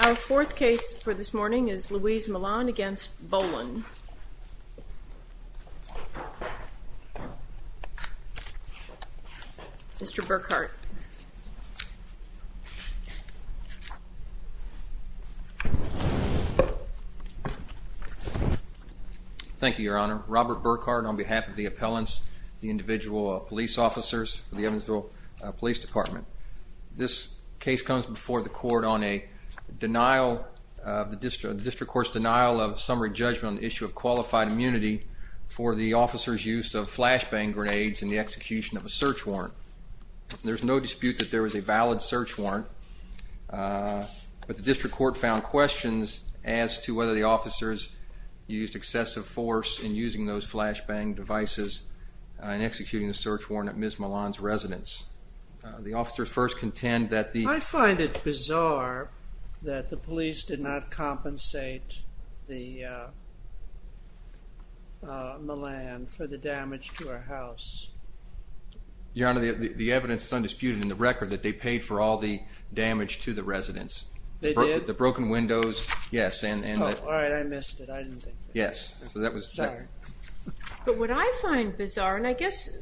Our fourth case for this morning is Louise Milan v. Bolin. Mr. Burkhardt. Thank you, Your Honor. Robert Burkhardt on behalf of the appellants, the individual police officers for the Evansville Police Department. This case comes before the court on the district court's denial of summary judgment on the issue of qualified immunity for the officers' use of flashbang grenades in the execution of a search warrant. There's no dispute that there was a valid search warrant, but the district court found questions as to whether the officers used excessive force in using those flashbang devices in executing the search warrant at Ms. Milan's residence. The officers first contend that the... I find it bizarre that the police did not compensate the Milan for the damage to her house. Your Honor, the evidence is undisputed in the record that they paid for all the damage to the residence. They did? The broken windows, yes. Oh, all right, I missed it. I didn't think... Yes. But what I find bizarre, and I guess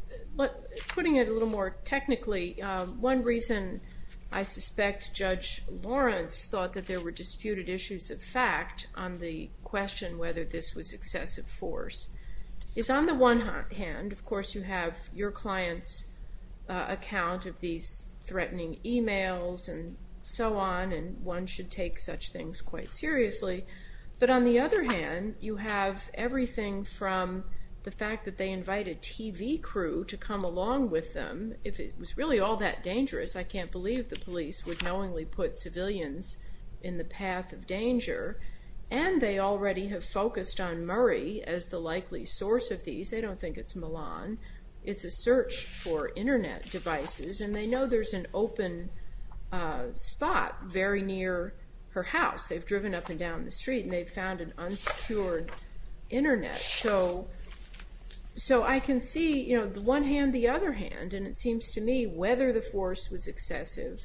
putting it a little more technically, one reason I suspect Judge Lawrence thought that there were disputed issues of fact on the question whether this was excessive force, is on the one hand, of course, you have your client's account of these threatening emails and so on, and one should take such things quite seriously. But on the other hand, you have everything from the fact that they invited TV crew to come along with them, if it was really all that dangerous, I can't believe the police would knowingly put civilians in the path of danger, and they already have focused on Murray as the likely source of these, they don't think it's Milan, it's a search for internet devices, and they know there's an open spot very near her house. They've driven up and down the street and they've found an unsecured internet. So I can see the one hand, the other hand, and it seems to me whether the force was excessive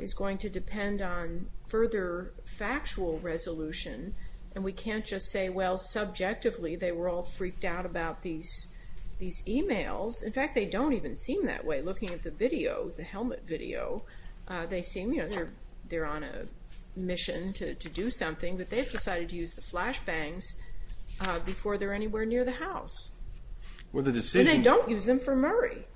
is going to depend on further factual resolution, and we can't just say, well, subjectively, they were all freaked out about these emails. In fact, they don't even seem that way, looking at the videos, the helmet video, they seem, you know, they're on a mission to do something, but they've decided to use the flashbangs before they're anywhere near the house. And they don't use them for Murray.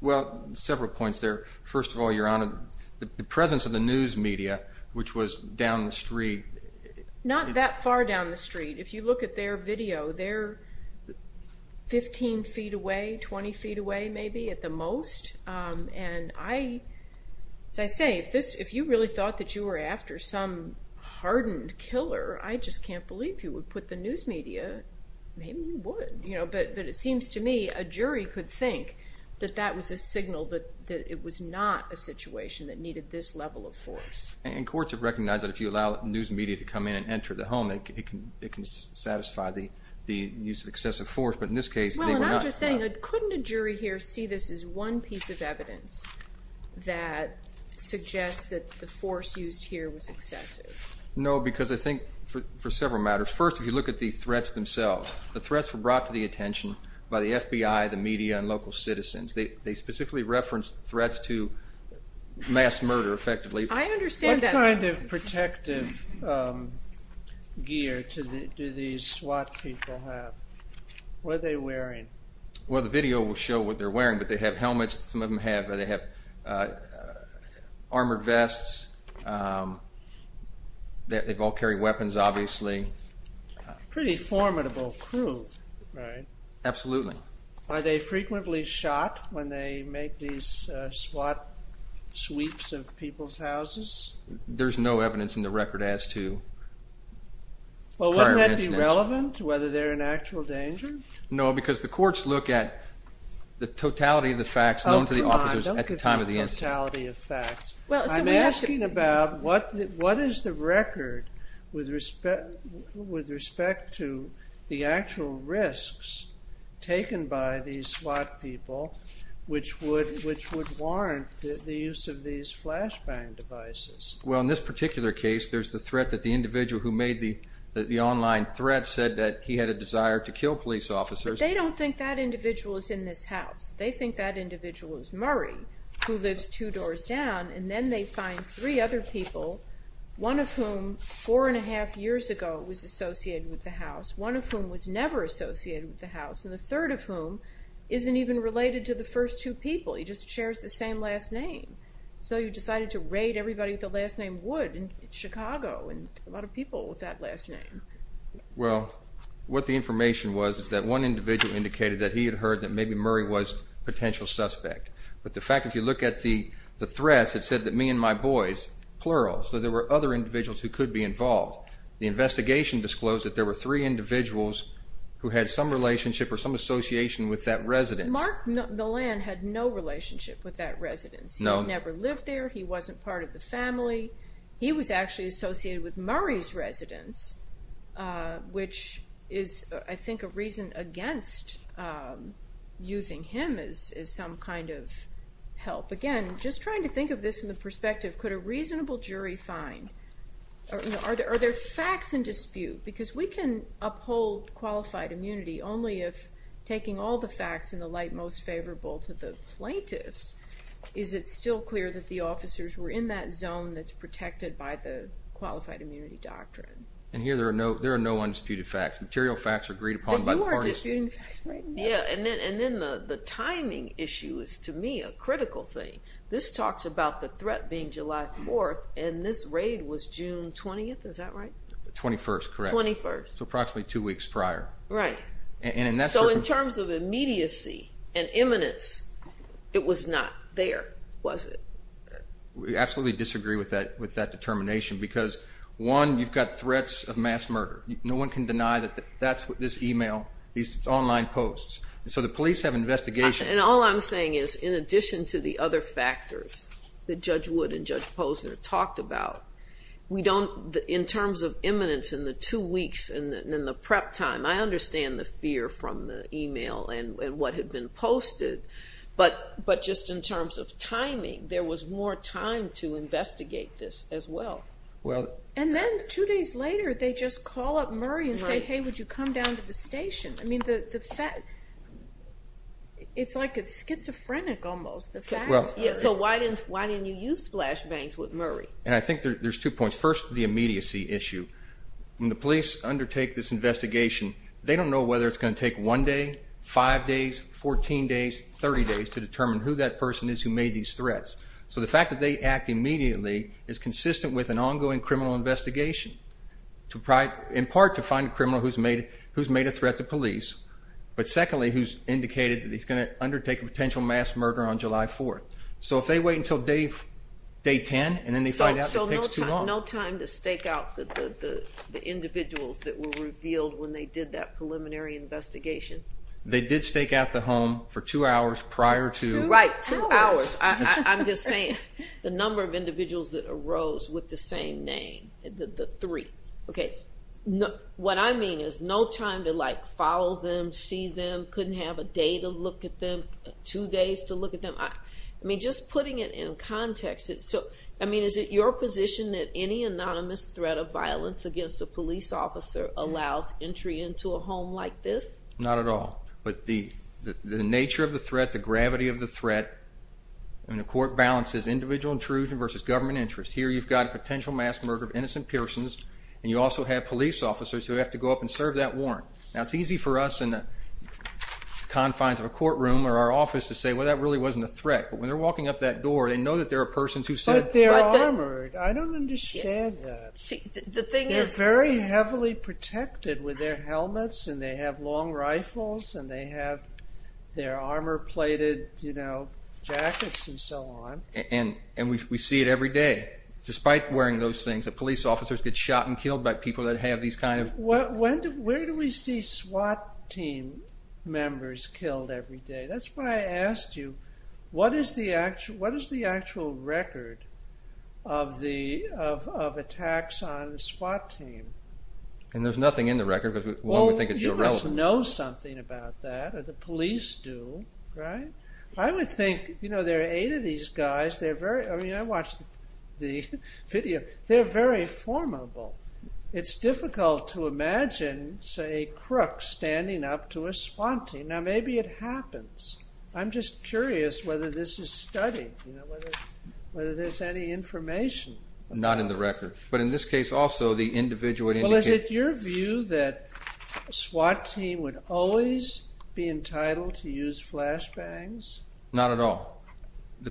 Well, several points there. First of all, Your Honor, the presence of the news media, which was down the street. Not that far down the street. If you look at their video, they're 15 feet away, 20 feet away, maybe, at the most. And I, as I say, if you really thought that you were after some hardened killer, I just can't believe you would put the news media, maybe you would. But it seems to me a jury could think that that was a signal that it was not a situation that needed this level of force. And courts have recognized that if you allow news media to come in and enter the home, it can satisfy the use of excessive force. But in this case, they were not. Well, and I'm just saying, couldn't a jury here see this as one piece of evidence that suggests that the force used here was excessive? No, because I think for several matters. First, if you look at the threats themselves, the threats were brought to the attention by the FBI, the media, and local citizens. They specifically referenced threats to mass murder, effectively. I understand that. What kind of protective gear do these SWAT people have? What are they wearing? Well, the video will show what they're wearing, but they have helmets. Some of them have armored vests. They've all carried weapons, obviously. Pretty formidable crew, right? Absolutely. Are they frequently shot when they make these SWAT sweeps of people's houses? There's no evidence in the record as to prior incidents. Well, wouldn't that be relevant, whether they're in actual danger? No, because the courts look at the totality of the facts known to the officers at the time of the incident. Oh, try. Don't give me the totality of facts. I'm asking about what is the record with respect to the actual risks taken by these SWAT people, which would warrant the use of these flashbang devices? Well, in this particular case, there's the threat that the individual who made the online threat said that he had a desire to kill police officers. But they don't think that individual is in this house. They think that individual is Murray, who lives two doors down. And then they find three other people, one of whom four and a half years ago was associated with the house, one of whom was never associated with the house, and a third of whom isn't even related to the first two people. He just shares the same last name. So you decided to raid everybody with the last name Wood in Chicago and a lot of people with that last name. Well, what the information was is that one individual indicated that he had heard that maybe Murray was a potential suspect. But the fact, if you look at the threats, it said that me and my boys, plural, so there were other individuals who could be involved. The investigation disclosed that there were three individuals who had some relationship or some association with that residence. Mark Millan had no relationship with that residence. No. He never lived there. He wasn't part of the family. He was actually associated with Murray's residence, which is, I think, a reason against using him as some kind of help. Again, just trying to think of this in the perspective, could a reasonable jury find, are there facts in dispute? Because we can uphold qualified immunity only if, taking all the facts in the light most favorable to the plaintiffs, is it still clear that the officers were in that zone that's protected by the qualified immunity doctrine? And here there are no undisputed facts. Material facts are agreed upon by the parties. You are disputing facts right now. Yeah, and then the timing issue is, to me, a critical thing. This talks about the threat being July 4th, and this raid was June 20th, is that right? The 21st, correct. 21st. So approximately two weeks prior. Right. So in terms of immediacy and imminence, it was not there, was it? We absolutely disagree with that determination because, one, you've got threats of mass murder. No one can deny that that's what this e-mail, these online posts. So the police have investigations. And all I'm saying is, in addition to the other factors that Judge Wood and Judge Posner talked about, in terms of imminence in the two weeks and the prep time, I understand the fear from the e-mail and what had been posted. But just in terms of timing, there was more time to investigate this as well. And then two days later, they just call up Murray and say, hey, would you come down to the station? I mean, it's like it's schizophrenic almost, the facts. So why didn't you use flashbangs with Murray? And I think there's two points. First, the immediacy issue. When the police undertake this investigation, they don't know whether it's going to take one day, five days, 14 days, 30 days, to determine who that person is who made these threats. So the fact that they act immediately is consistent with an ongoing criminal investigation, in part to find a criminal who's made a threat to police, but secondly, who's indicated that he's going to undertake a potential mass murder on July 4th. So if they wait until day 10 and then they find out it takes too long. So no time to stake out the individuals that were revealed when they did that preliminary investigation? They did stake out the home for two hours prior to. Right, two hours. I'm just saying the number of individuals that arose with the same name, the three. Okay. What I mean is no time to like follow them, see them, couldn't have a day to look at them, two days to look at them. I mean, just putting it in context. I mean, is it your position that any anonymous threat of violence against a police officer allows entry into a home like this? Not at all. But the nature of the threat, the gravity of the threat, and the court balances individual intrusion versus government interest. Here you've got a potential mass murder of innocent persons, and you also have police officers who have to go up and serve that warrant. Now, it's easy for us in the confines of a courtroom or our office to say, well, that really wasn't a threat. But when they're walking up that door, they know that there are persons who said... But they're armored. I don't understand that. See, the thing is... They're very heavily protected with their helmets, and they have long rifles, and they have their armor-plated, you know, jackets and so on. And we see it every day. Despite wearing those things, the police officers get shot and killed by people that have these kind of... Where do we see SWAT team members killed every day? That's why I asked you, what is the actual record of attacks on the SWAT team? And there's nothing in the record, but one would think it's irrelevant. Well, you must know something about that, or the police do, right? I would think, you know, there are eight of these guys. I mean, I watched the video. They're very formable. It's difficult to imagine, say, a crook standing up to a SWAT team. Now, maybe it happens. I'm just curious whether this is studied, you know, whether there's any information. Not in the record. But in this case also, the individual would indicate... Well, is it your view that a SWAT team would always be entitled to use flashbangs? Not at all.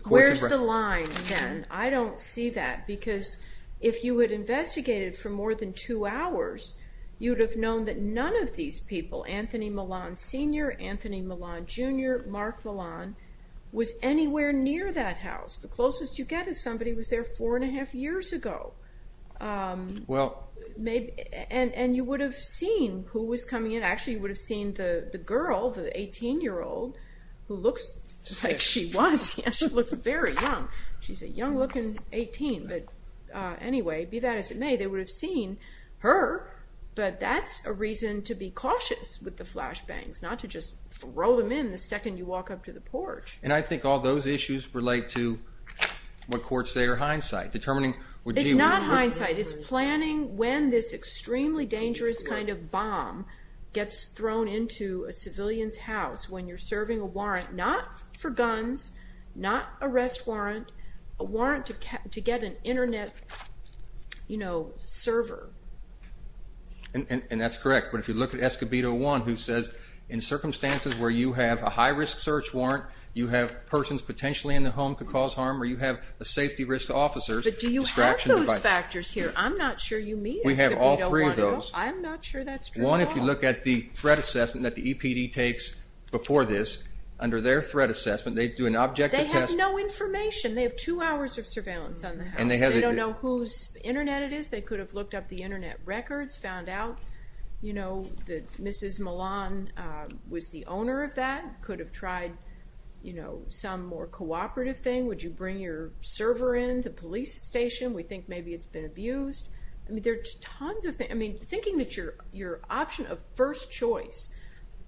Where's the line, then? I don't see that. Because if you had investigated for more than two hours, you would have known that none of these people, Anthony Milan Sr., Anthony Milan Jr., Mark Milan, was anywhere near that house. The closest you get is somebody was there four and a half years ago. And you would have seen who was coming in. Actually, you would have seen the girl, the 18-year-old, who looks like she was. She looks very young. She's a young-looking 18. But anyway, be that as it may, they would have seen her. But that's a reason to be cautious with the flashbangs, not to just throw them in the second you walk up to the porch. And I think all those issues relate to what courts say are hindsight. It's not hindsight. It's planning when this extremely dangerous kind of bomb gets thrown into a civilian's house, when you're serving a warrant not for guns, not arrest warrant, a warrant to get an Internet server. And that's correct. But if you look at Escobedo 1, who says, in circumstances where you have a high-risk search warrant, you have persons potentially in the home could cause harm, or you have a safety risk to officers. But do you have those factors here? I'm not sure you mean Escobedo 1 at all. We have all three of those. I'm not sure that's true at all. One, if you look at the threat assessment that the EPD takes before this, under their threat assessment, they do an objective test. They have no information. They have two hours of surveillance on the house. They don't know whose Internet it is. They could have looked up the Internet records, found out that Mrs. Milan was the owner of that, could have tried some more cooperative thing. Would you bring your server in the police station? We think maybe it's been abused. I mean, there's tons of things. I mean, thinking that your option of first choice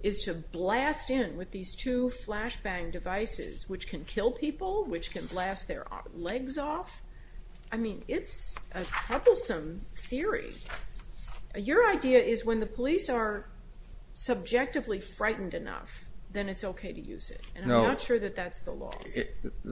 is to blast in with these two flashbang devices, which can kill people, which can blast their legs off. I mean, it's a troublesome theory. Your idea is when the police are subjectively frightened enough, then it's okay to use it. And I'm not sure that that's the law.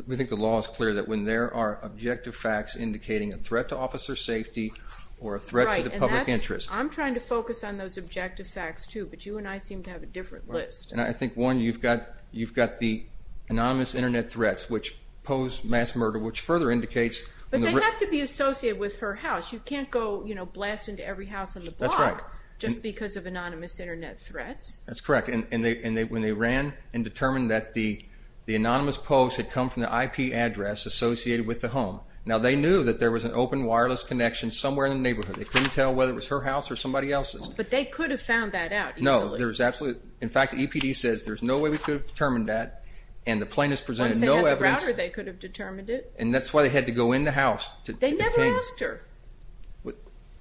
We think the law is clear that when there are objective facts indicating a threat to officer safety or a threat to the public interest. I'm trying to focus on those objective facts, too. But you and I seem to have a different list. And I think, one, you've got the anonymous Internet threats, which pose mass murder, which further indicates the risk. But they have to be associated with her house. You can't go blast into every house on the block just because of anonymous Internet threats. That's correct. And when they ran and determined that the anonymous posts had come from the IP address associated with the home. Now, they knew that there was an open wireless connection somewhere in the neighborhood. They couldn't tell whether it was her house or somebody else's. But they could have found that out easily. No. In fact, the EPD says there's no way we could have determined that. And the plaintiffs presented no evidence. Once they had the router, they could have determined it. And that's why they had to go in the house to obtain it. They never asked her.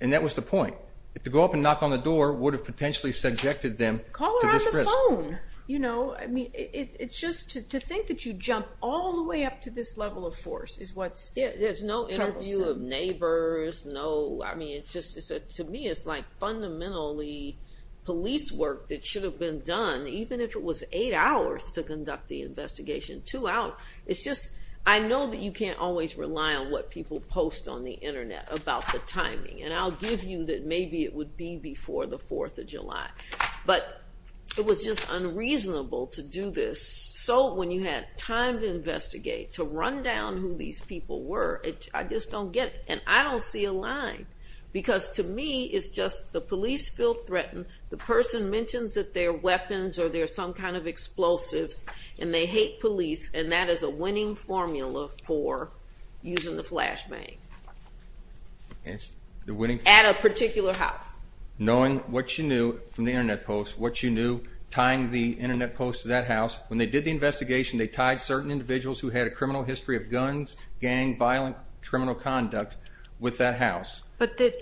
And that was the point. To go up and knock on the door would have potentially subjected them to this risk. Call her on the phone. You know, I mean, it's just to think that you jump all the way up to this level of force is what's terrible. There's no interview of neighbors. No. I mean, to me, it's like fundamentally police work that should have been done, even if it was eight hours to conduct the investigation, two hours. It's just I know that you can't always rely on what people post on the Internet about the timing. And I'll give you that maybe it would be before the 4th of July. But it was just unreasonable to do this. So when you had time to investigate, to run down who these people were, I just don't get it. And I don't see a line. Because to me, it's just the police feel threatened. The person mentions that they're weapons or they're some kind of explosives. And they hate police. And that is a winning formula for using the flashbang. At a particular house. Knowing what you knew from the Internet post, what you knew, tying the Internet post to that house. When they did the investigation, they tied certain individuals who had a criminal history of guns, gang, violent criminal conduct with that house. But the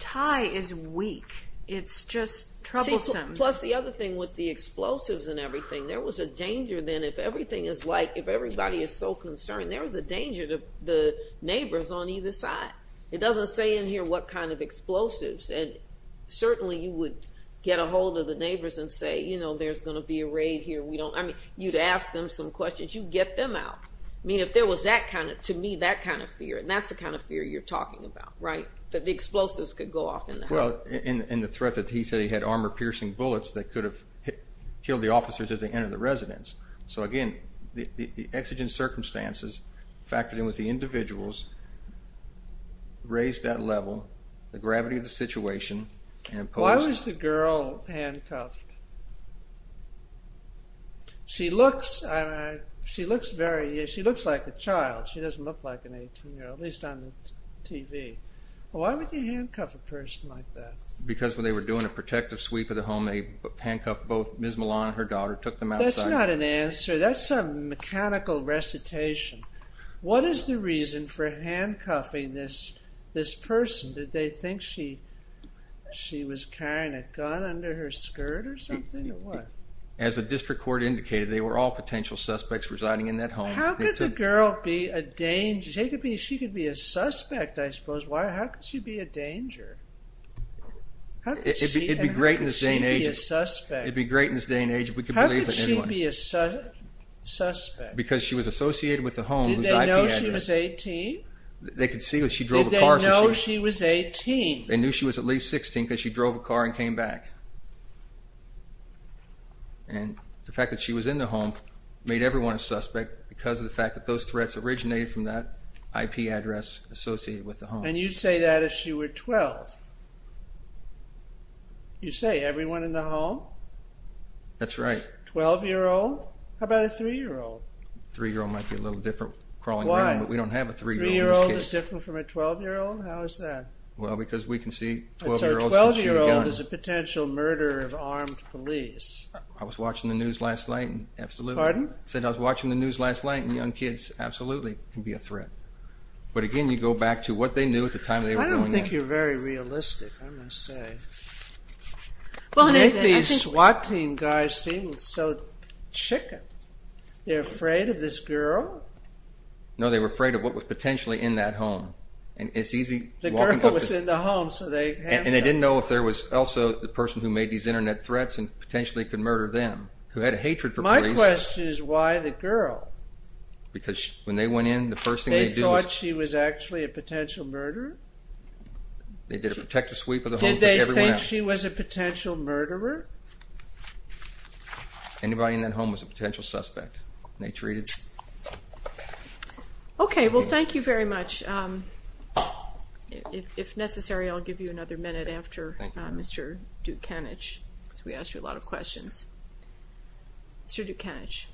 tie is weak. It's just troublesome. Plus the other thing with the explosives and everything. There was a danger then if everything is light, if everybody is so concerned, there was a danger to the neighbors on either side. It doesn't say in here what kind of explosives. And certainly you would get a hold of the neighbors and say, you know, there's going to be a raid here. I mean, you'd ask them some questions. You'd get them out. I mean, if there was that kind of, to me, that kind of fear. And that's the kind of fear you're talking about, right? That the explosives could go off in the house. Well, and the threat that he said he had armor-piercing bullets that could have killed the officers as they entered the residence. So, again, the exigent circumstances factored in with the individuals, raised that level, the gravity of the situation. Why was the girl handcuffed? She looks like a child. She doesn't look like an 18-year-old, at least on the TV. Why would you handcuff a person like that? Because when they were doing a protective sweep of the home, they handcuffed both Ms. Milan and her daughter, took them outside. That's not an answer. That's a mechanical recitation. What is the reason for handcuffing this person? Did they think she was carrying a gun under her skirt or something, or what? As the district court indicated, they were all potential suspects residing in that home. How could the girl be a danger? She could be a suspect, I suppose. Why, how could she be a danger? How could she be a suspect? It'd be great in this day and age if we could believe it anyway. How could she be a suspect? Because she was associated with the home. Did they know she was 18? They could see that she drove a car. Did they know she was 18? They knew she was at least 16 because she drove a car and came back. And the fact that she was in the home made everyone a suspect because of the fact that those threats originated from that IP address associated with the home. And you'd say that if she were 12? You'd say everyone in the home? That's right. 12-year-old? How about a 3-year-old? A 3-year-old might be a little different crawling around, but we don't have a 3-year-old in this case. Why? A 3-year-old is different from a 12-year-old? How is that? Well, because we can see 12-year-olds can shoot a gun. So a 12-year-old is a potential murderer of armed police. I was watching the news last night, and absolutely. Pardon? I said I was watching the news last night, and young kids, absolutely, can be a threat. But again, you go back to what they knew at the time they were going out. I don't think you're very realistic, I must say. You make these SWAT team guys seem so chicken. They're afraid of this girl? No, they were afraid of what was potentially in that home. The girl was in the home, so they handled it. And they didn't know if there was also the person who made these Internet threats and potentially could murder them, who had a hatred for police. My question is why the girl? Because when they went in, the first thing they did was... They thought she was actually a potential murderer? They did a protective sweep of the home, took everyone out. Did they think she was a potential murderer? Anybody in that home was a potential suspect, and they treated... Okay, well, thank you very much. If necessary, I'll give you another minute after Mr. Dukanich, because we asked you a lot of questions. Mr. Dukanich.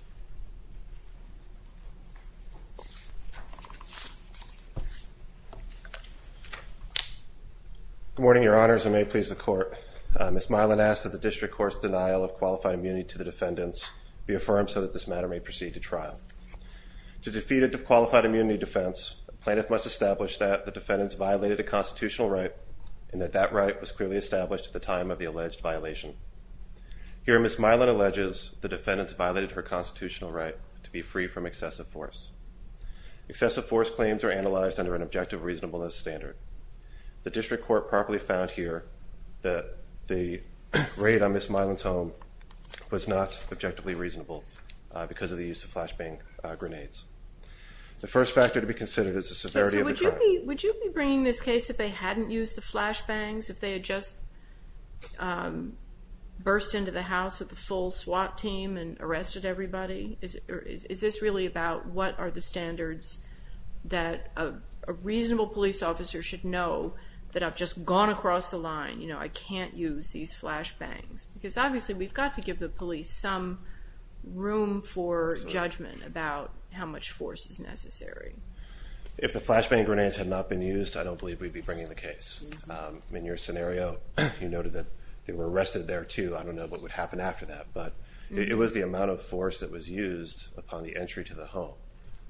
Good morning, Your Honors, and may it please the Court. Ms. Milan asked that the district court's denial of qualified immunity to the defendants be affirmed so that this matter may proceed to trial. To defeat a qualified immunity defense, a plaintiff must establish that the defendants violated a constitutional right and that that right was clearly established at the time of the alleged violation. Here, Ms. Milan alleges the defendants violated her constitutional right to be free from excessive force. Excessive force claims are analyzed under an objective reasonableness standard. The district court properly found here that the raid on Ms. Milan's home was not objectively reasonable because of the use of flashbang grenades. The first factor to be considered is the severity of the crime. So would you be bringing this case if they hadn't used the flashbangs, if they had just burst into the house with a full SWAT team and arrested everybody? Is this really about what are the standards that a reasonable police officer should know that I've just gone across the line, you know, I can't use these flashbangs? Because obviously we've got to give the police some room for judgment about how much force is necessary. If the flashbang grenades had not been used, I don't believe we'd be bringing the case. In your scenario, you noted that they were arrested there, too. I don't know what would happen after that, but it was the amount of force that was used upon the entry to the home,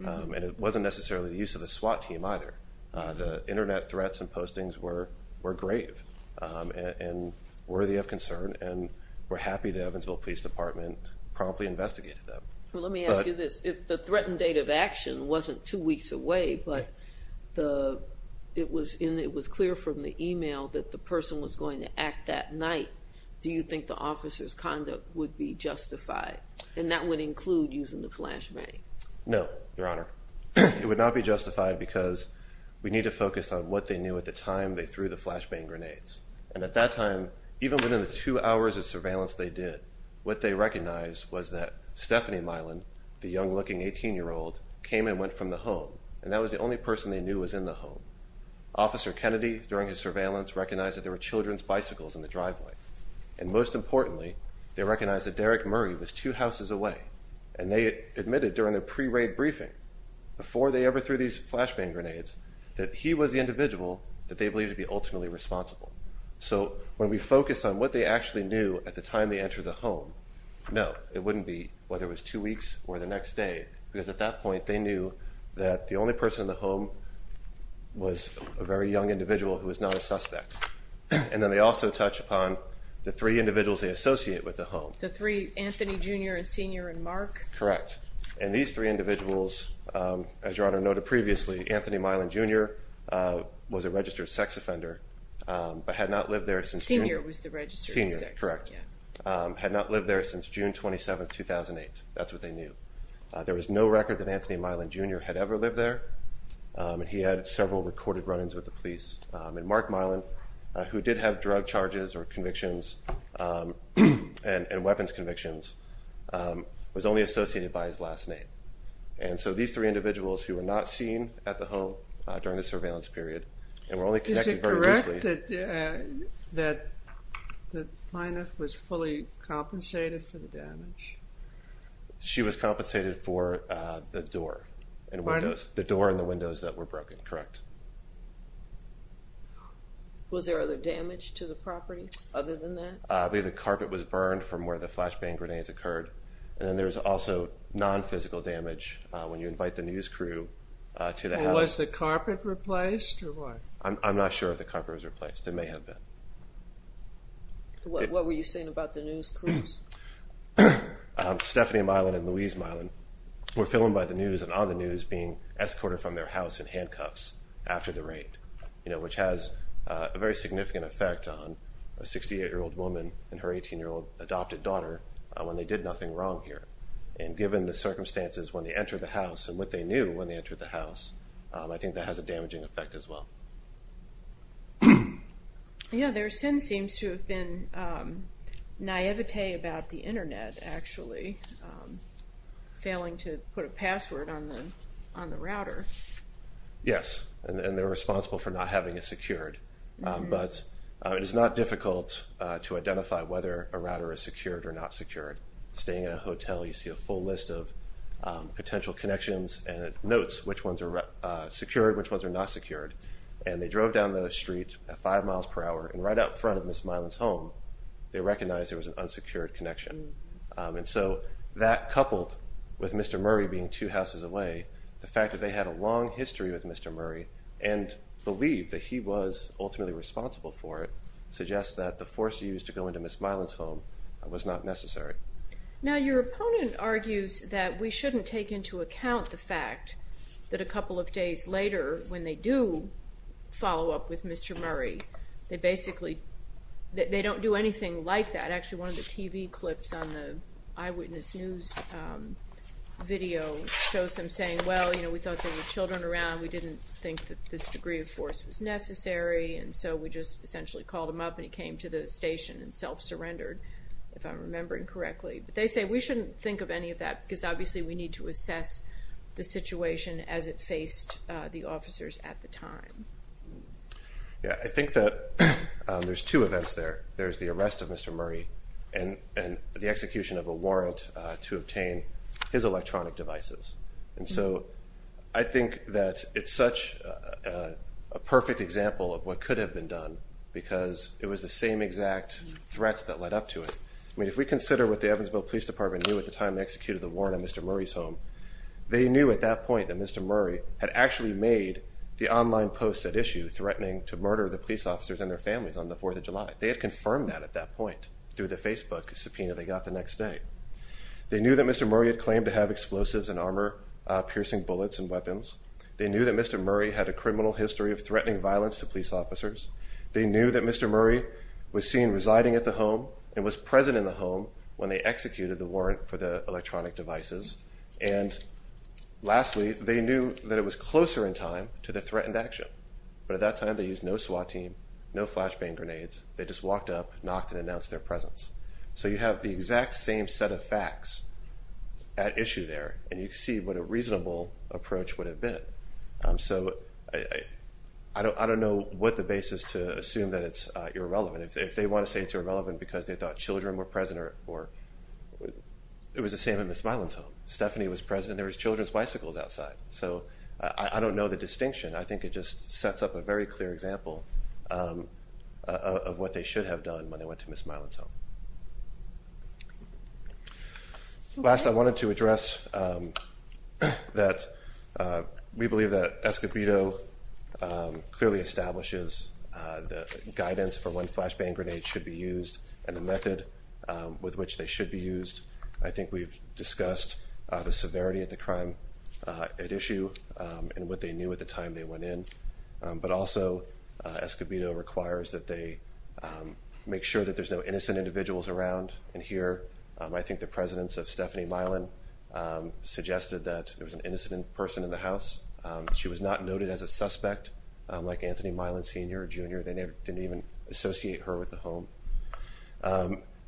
and it wasn't necessarily the use of the SWAT team either. The Internet threats and postings were grave and worthy of concern, and we're happy the Evansville Police Department promptly investigated them. Let me ask you this. If the threatened date of action wasn't two weeks away, but it was clear from the email that the person was going to act that night, do you think the officer's conduct would be justified, and that would include using the flashbang? No, Your Honor. It would not be justified because we need to focus on what they knew at the time they threw the flashbang grenades. And at that time, even within the two hours of surveillance they did, what they recognized was that Stephanie Milan, the young-looking 18-year-old, came and went from the home, and that was the only person they knew was in the home. Officer Kennedy, during his surveillance, recognized that there were children's bicycles in the driveway. And most importantly, they recognized that Derrick Murray was two houses away, and they admitted during the pre-raid briefing, before they ever threw these flashbang grenades, that he was the individual that they believed to be ultimately responsible. So when we focus on what they actually knew at the time they entered the home, no, it wouldn't be whether it was two weeks or the next day, because at that point they knew that the only person in the home was a very young individual who was not a suspect. And then they also touch upon the three individuals they associate with the home. The three, Anthony, Jr., and Senior, and Mark? Correct. And these three individuals, as Your Honor noted previously, Anthony Milan, Jr. was a registered sex offender, but had not lived there since... Senior was the registered sex. Senior, correct. Had not lived there since June 27, 2008. That's what they knew. There was no record that Anthony Milan, Jr. had ever lived there, and he had several recorded run-ins with the police. And Mark Milan, who did have drug charges or convictions and weapons convictions, was only associated by his last name. And so these three individuals who were not seen at the home during the surveillance period, and were only connected very briefly... Is it correct that the plaintiff was fully compensated for the damage? She was compensated for the door and windows. Pardon? The door and the windows that were broken, correct. Was there other damage to the property other than that? The carpet was burned from where the flashbang grenades occurred. And then there was also non-physical damage when you invite the news crew to the house. Was the carpet replaced or what? I'm not sure if the carpet was replaced. It may have been. What were you saying about the news crews? Stephanie Milan and Louise Milan were filmed by the news and on the news being escorted from their house in handcuffs after the raid, which has a very significant effect on a 68-year-old woman and her 18-year-old adopted daughter when they did nothing wrong here. And given the circumstances when they entered the house and what they knew when they entered the house, I think that has a damaging effect as well. Yeah, there seems to have been naivete about the Internet, actually, failing to put a password on the router. Yes, and they're responsible for not having it secured. But it is not difficult to identify whether a router is secured or not secured. Staying in a hotel, you see a full list of potential connections and it notes which ones are secured, which ones are not secured. And they drove down the street at five miles per hour and right out front of Ms. Milan's home, they recognized there was an unsecured connection. And so that, coupled with Mr. Murray being two houses away, the fact that they had a long history with Mr. Murray and believed that he was ultimately responsible for it, suggests that the force used to go into Ms. Milan's home was not necessary. Now, your opponent argues that we shouldn't take into account the fact that a couple of days later, when they do follow up with Mr. Murray, they basically don't do anything like that. Actually, one of the TV clips on the Eyewitness News video shows them saying, well, we thought there were children around, we didn't think that this degree of force was necessary, and so we just essentially called him up and he came to the station and self-surrendered, if I'm remembering correctly. But they say we shouldn't think of any of that because obviously we need to assess the situation as it faced the officers at the time. Yeah, I think that there's two events there. There's the arrest of Mr. Murray and the execution of a warrant to obtain his electronic devices. And so I think that it's such a perfect example of what could have been done because it was the same exact threats that led up to it. I mean, if we consider what the Evansville Police Department knew at the time they executed the warrant on Mr. Murray's home, they knew at that point that Mr. Murray had actually made the online post at issue threatening to murder the police officers and their families on the 4th of July. They had confirmed that at that point through the Facebook subpoena they got the next day. They knew that Mr. Murray had claimed to have explosives and armor-piercing bullets and weapons. They knew that Mr. Murray had a criminal history of threatening violence to police officers. They knew that Mr. Murray was seen residing at the home and was present in the home when they executed the warrant for the electronic devices. And lastly, they knew that it was closer in time to the threatened action. But at that time they used no SWAT team, no flashbang grenades. They just walked up, knocked, and announced their presence. So you have the exact same set of facts at issue there, and you can see what a reasonable approach would have been. So I don't know what the basis to assume that it's irrelevant. If they want to say it's irrelevant because they thought children were present or it was the same at Ms. Milan's home. Stephanie was present and there was children's bicycles outside. So I don't know the distinction. I think it just sets up a very clear example of what they should have done when they went to Ms. Milan's home. Last, I wanted to address that we believe that Escobedo clearly establishes that guidance for when flashbang grenades should be used and the method with which they should be used. I think we've discussed the severity of the crime at issue and what they knew at the time they went in. But also Escobedo requires that they make sure that there's no innocent individuals around. And here I think the presidents of Stephanie Milan suggested that there was an innocent person in the house. She was not noted as a suspect like Anthony Milan Sr. or Jr. They didn't even associate her with the home.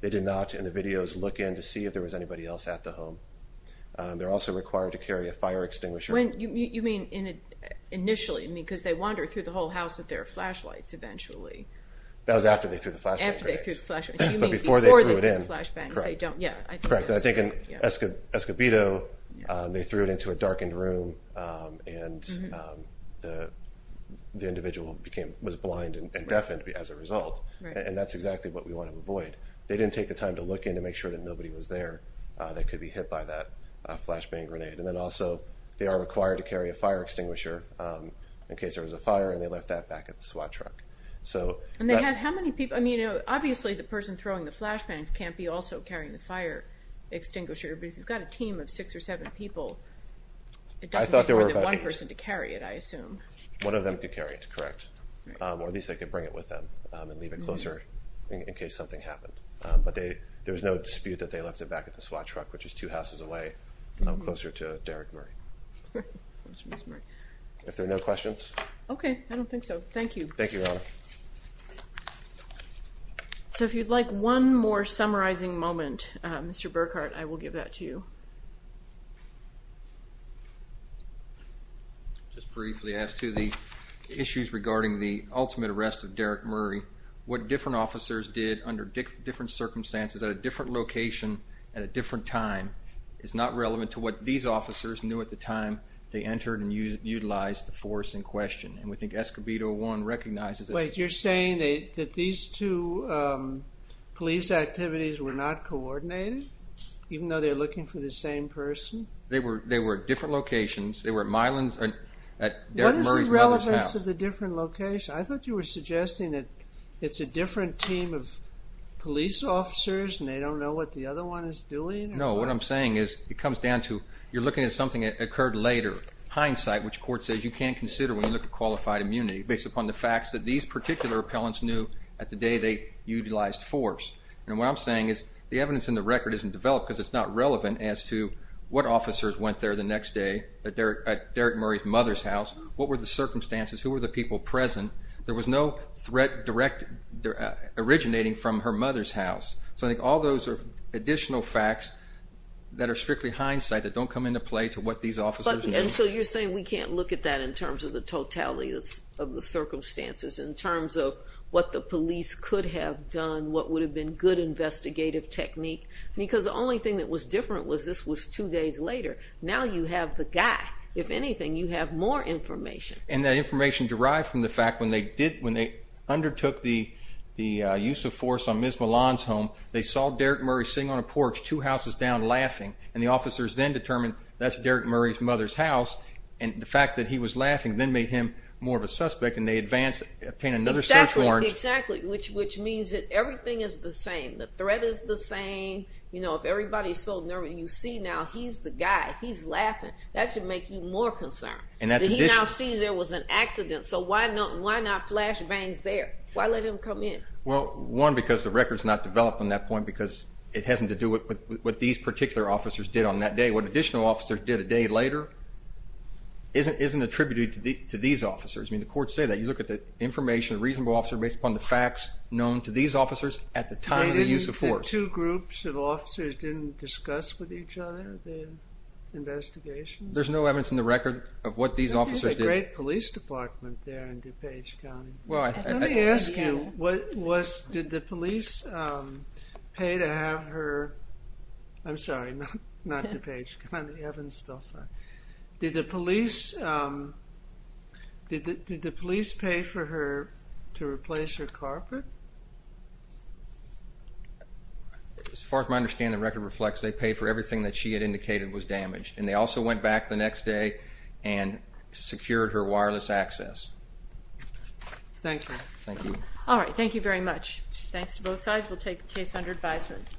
They did not, in the videos, look in to see if there was anybody else at the home. They're also required to carry a fire extinguisher. You mean initially? Because they wandered through the whole house with their flashlights eventually. That was after they threw the flashbang grenades. After they threw the flashbangs. But before they threw it in. Before they threw the flashbangs. Correct. I think in Escobedo they threw it into a darkened room and the individual was blind and deafened as a result. And that's exactly what we want to avoid. They didn't take the time to look in to make sure that nobody was there that could be hit by that flashbang grenade. And then also they are required to carry a fire extinguisher in case there was a fire and they left that back at the SWAT truck. And they had how many people? Obviously the person throwing the flashbangs can't be also carrying the fire extinguisher. But if you've got a team of six or seven people, it doesn't take more than one person to carry it, I assume. One of them could carry it, correct. Or at least they could bring it with them and leave it closer in case something happened. But there was no dispute that they left it back at the SWAT truck, which is two houses away, closer to Derrick Murray. If there are no questions. Okay. I don't think so. Thank you. Thank you, Your Honor. So if you'd like one more summarizing moment, Mr. Burkhart, I will give that to you. Just briefly as to the issues regarding the ultimate arrest of Derrick Murray, what different officers did under different circumstances at a different location at a different time is not relevant to what these officers knew at the time they entered and utilized the force in question. And we think Escobedo 1 recognizes that. Wait. You're saying that these two police activities were not coordinated, even though they were looking for the same person? They were at different locations. They were at Mylan's or at Derrick Murray's mother's house. What is the relevance of the different locations? I thought you were suggesting that it's a different team of police officers and they don't know what the other one is doing. No. What I'm saying is it comes down to you're looking at something that occurred later. Hindsight, which court says you can't consider when you look at qualified immunity, based upon the facts that these particular appellants knew at the day they utilized force. And what I'm saying is the evidence in the record isn't developed because it's not relevant as to what officers went there the next day at Derrick Murray's mother's house, what were the circumstances, who were the people present. There was no threat originating from her mother's house. So I think all those are additional facts that are strictly hindsight that don't come into play to what these officers knew. And so you're saying we can't look at that in terms of the totality of the circumstances, in terms of what the police could have done, what would have been good investigative technique? Because the only thing that was different was this was two days later. Now you have the guy. If anything, you have more information. And that information derived from the fact when they undertook the use of force on Ms. Milan's home, they saw Derrick Murray sitting on a porch two houses down laughing, and the officers then determined that's Derrick Murray's mother's house. And the fact that he was laughing then made him more of a suspect, and they obtained another search warrant. Exactly, exactly, which means that everything is the same. The threat is the same. You know, if everybody's so nervous, you see now he's the guy. He's laughing. That should make you more concerned. He now sees there was an accident, so why not flash bangs there? Why let him come in? Well, one, because the record's not developed on that point because it hasn't to do with what these particular officers did on that day. What additional officers did a day later isn't attributed to these officers. I mean, the courts say that. You look at the information, the reasonable officer, based upon the facts known to these officers at the time of the use of force. Were there two groups of officers that didn't discuss with each other the investigation? There's no evidence in the record of what these officers did. There was a great police department there in DuPage County. Let me ask you, did the police pay to have her— I'm sorry, not DuPage County, Evansville, sorry. Did the police pay for her to replace her carpet? As far as my understanding, the record reflects they paid for everything that she had indicated was damaged, and they also went back the next day and secured her wireless access. Thank you. Thank you. All right, thank you very much. Thanks to both sides. We'll take the case under advisement.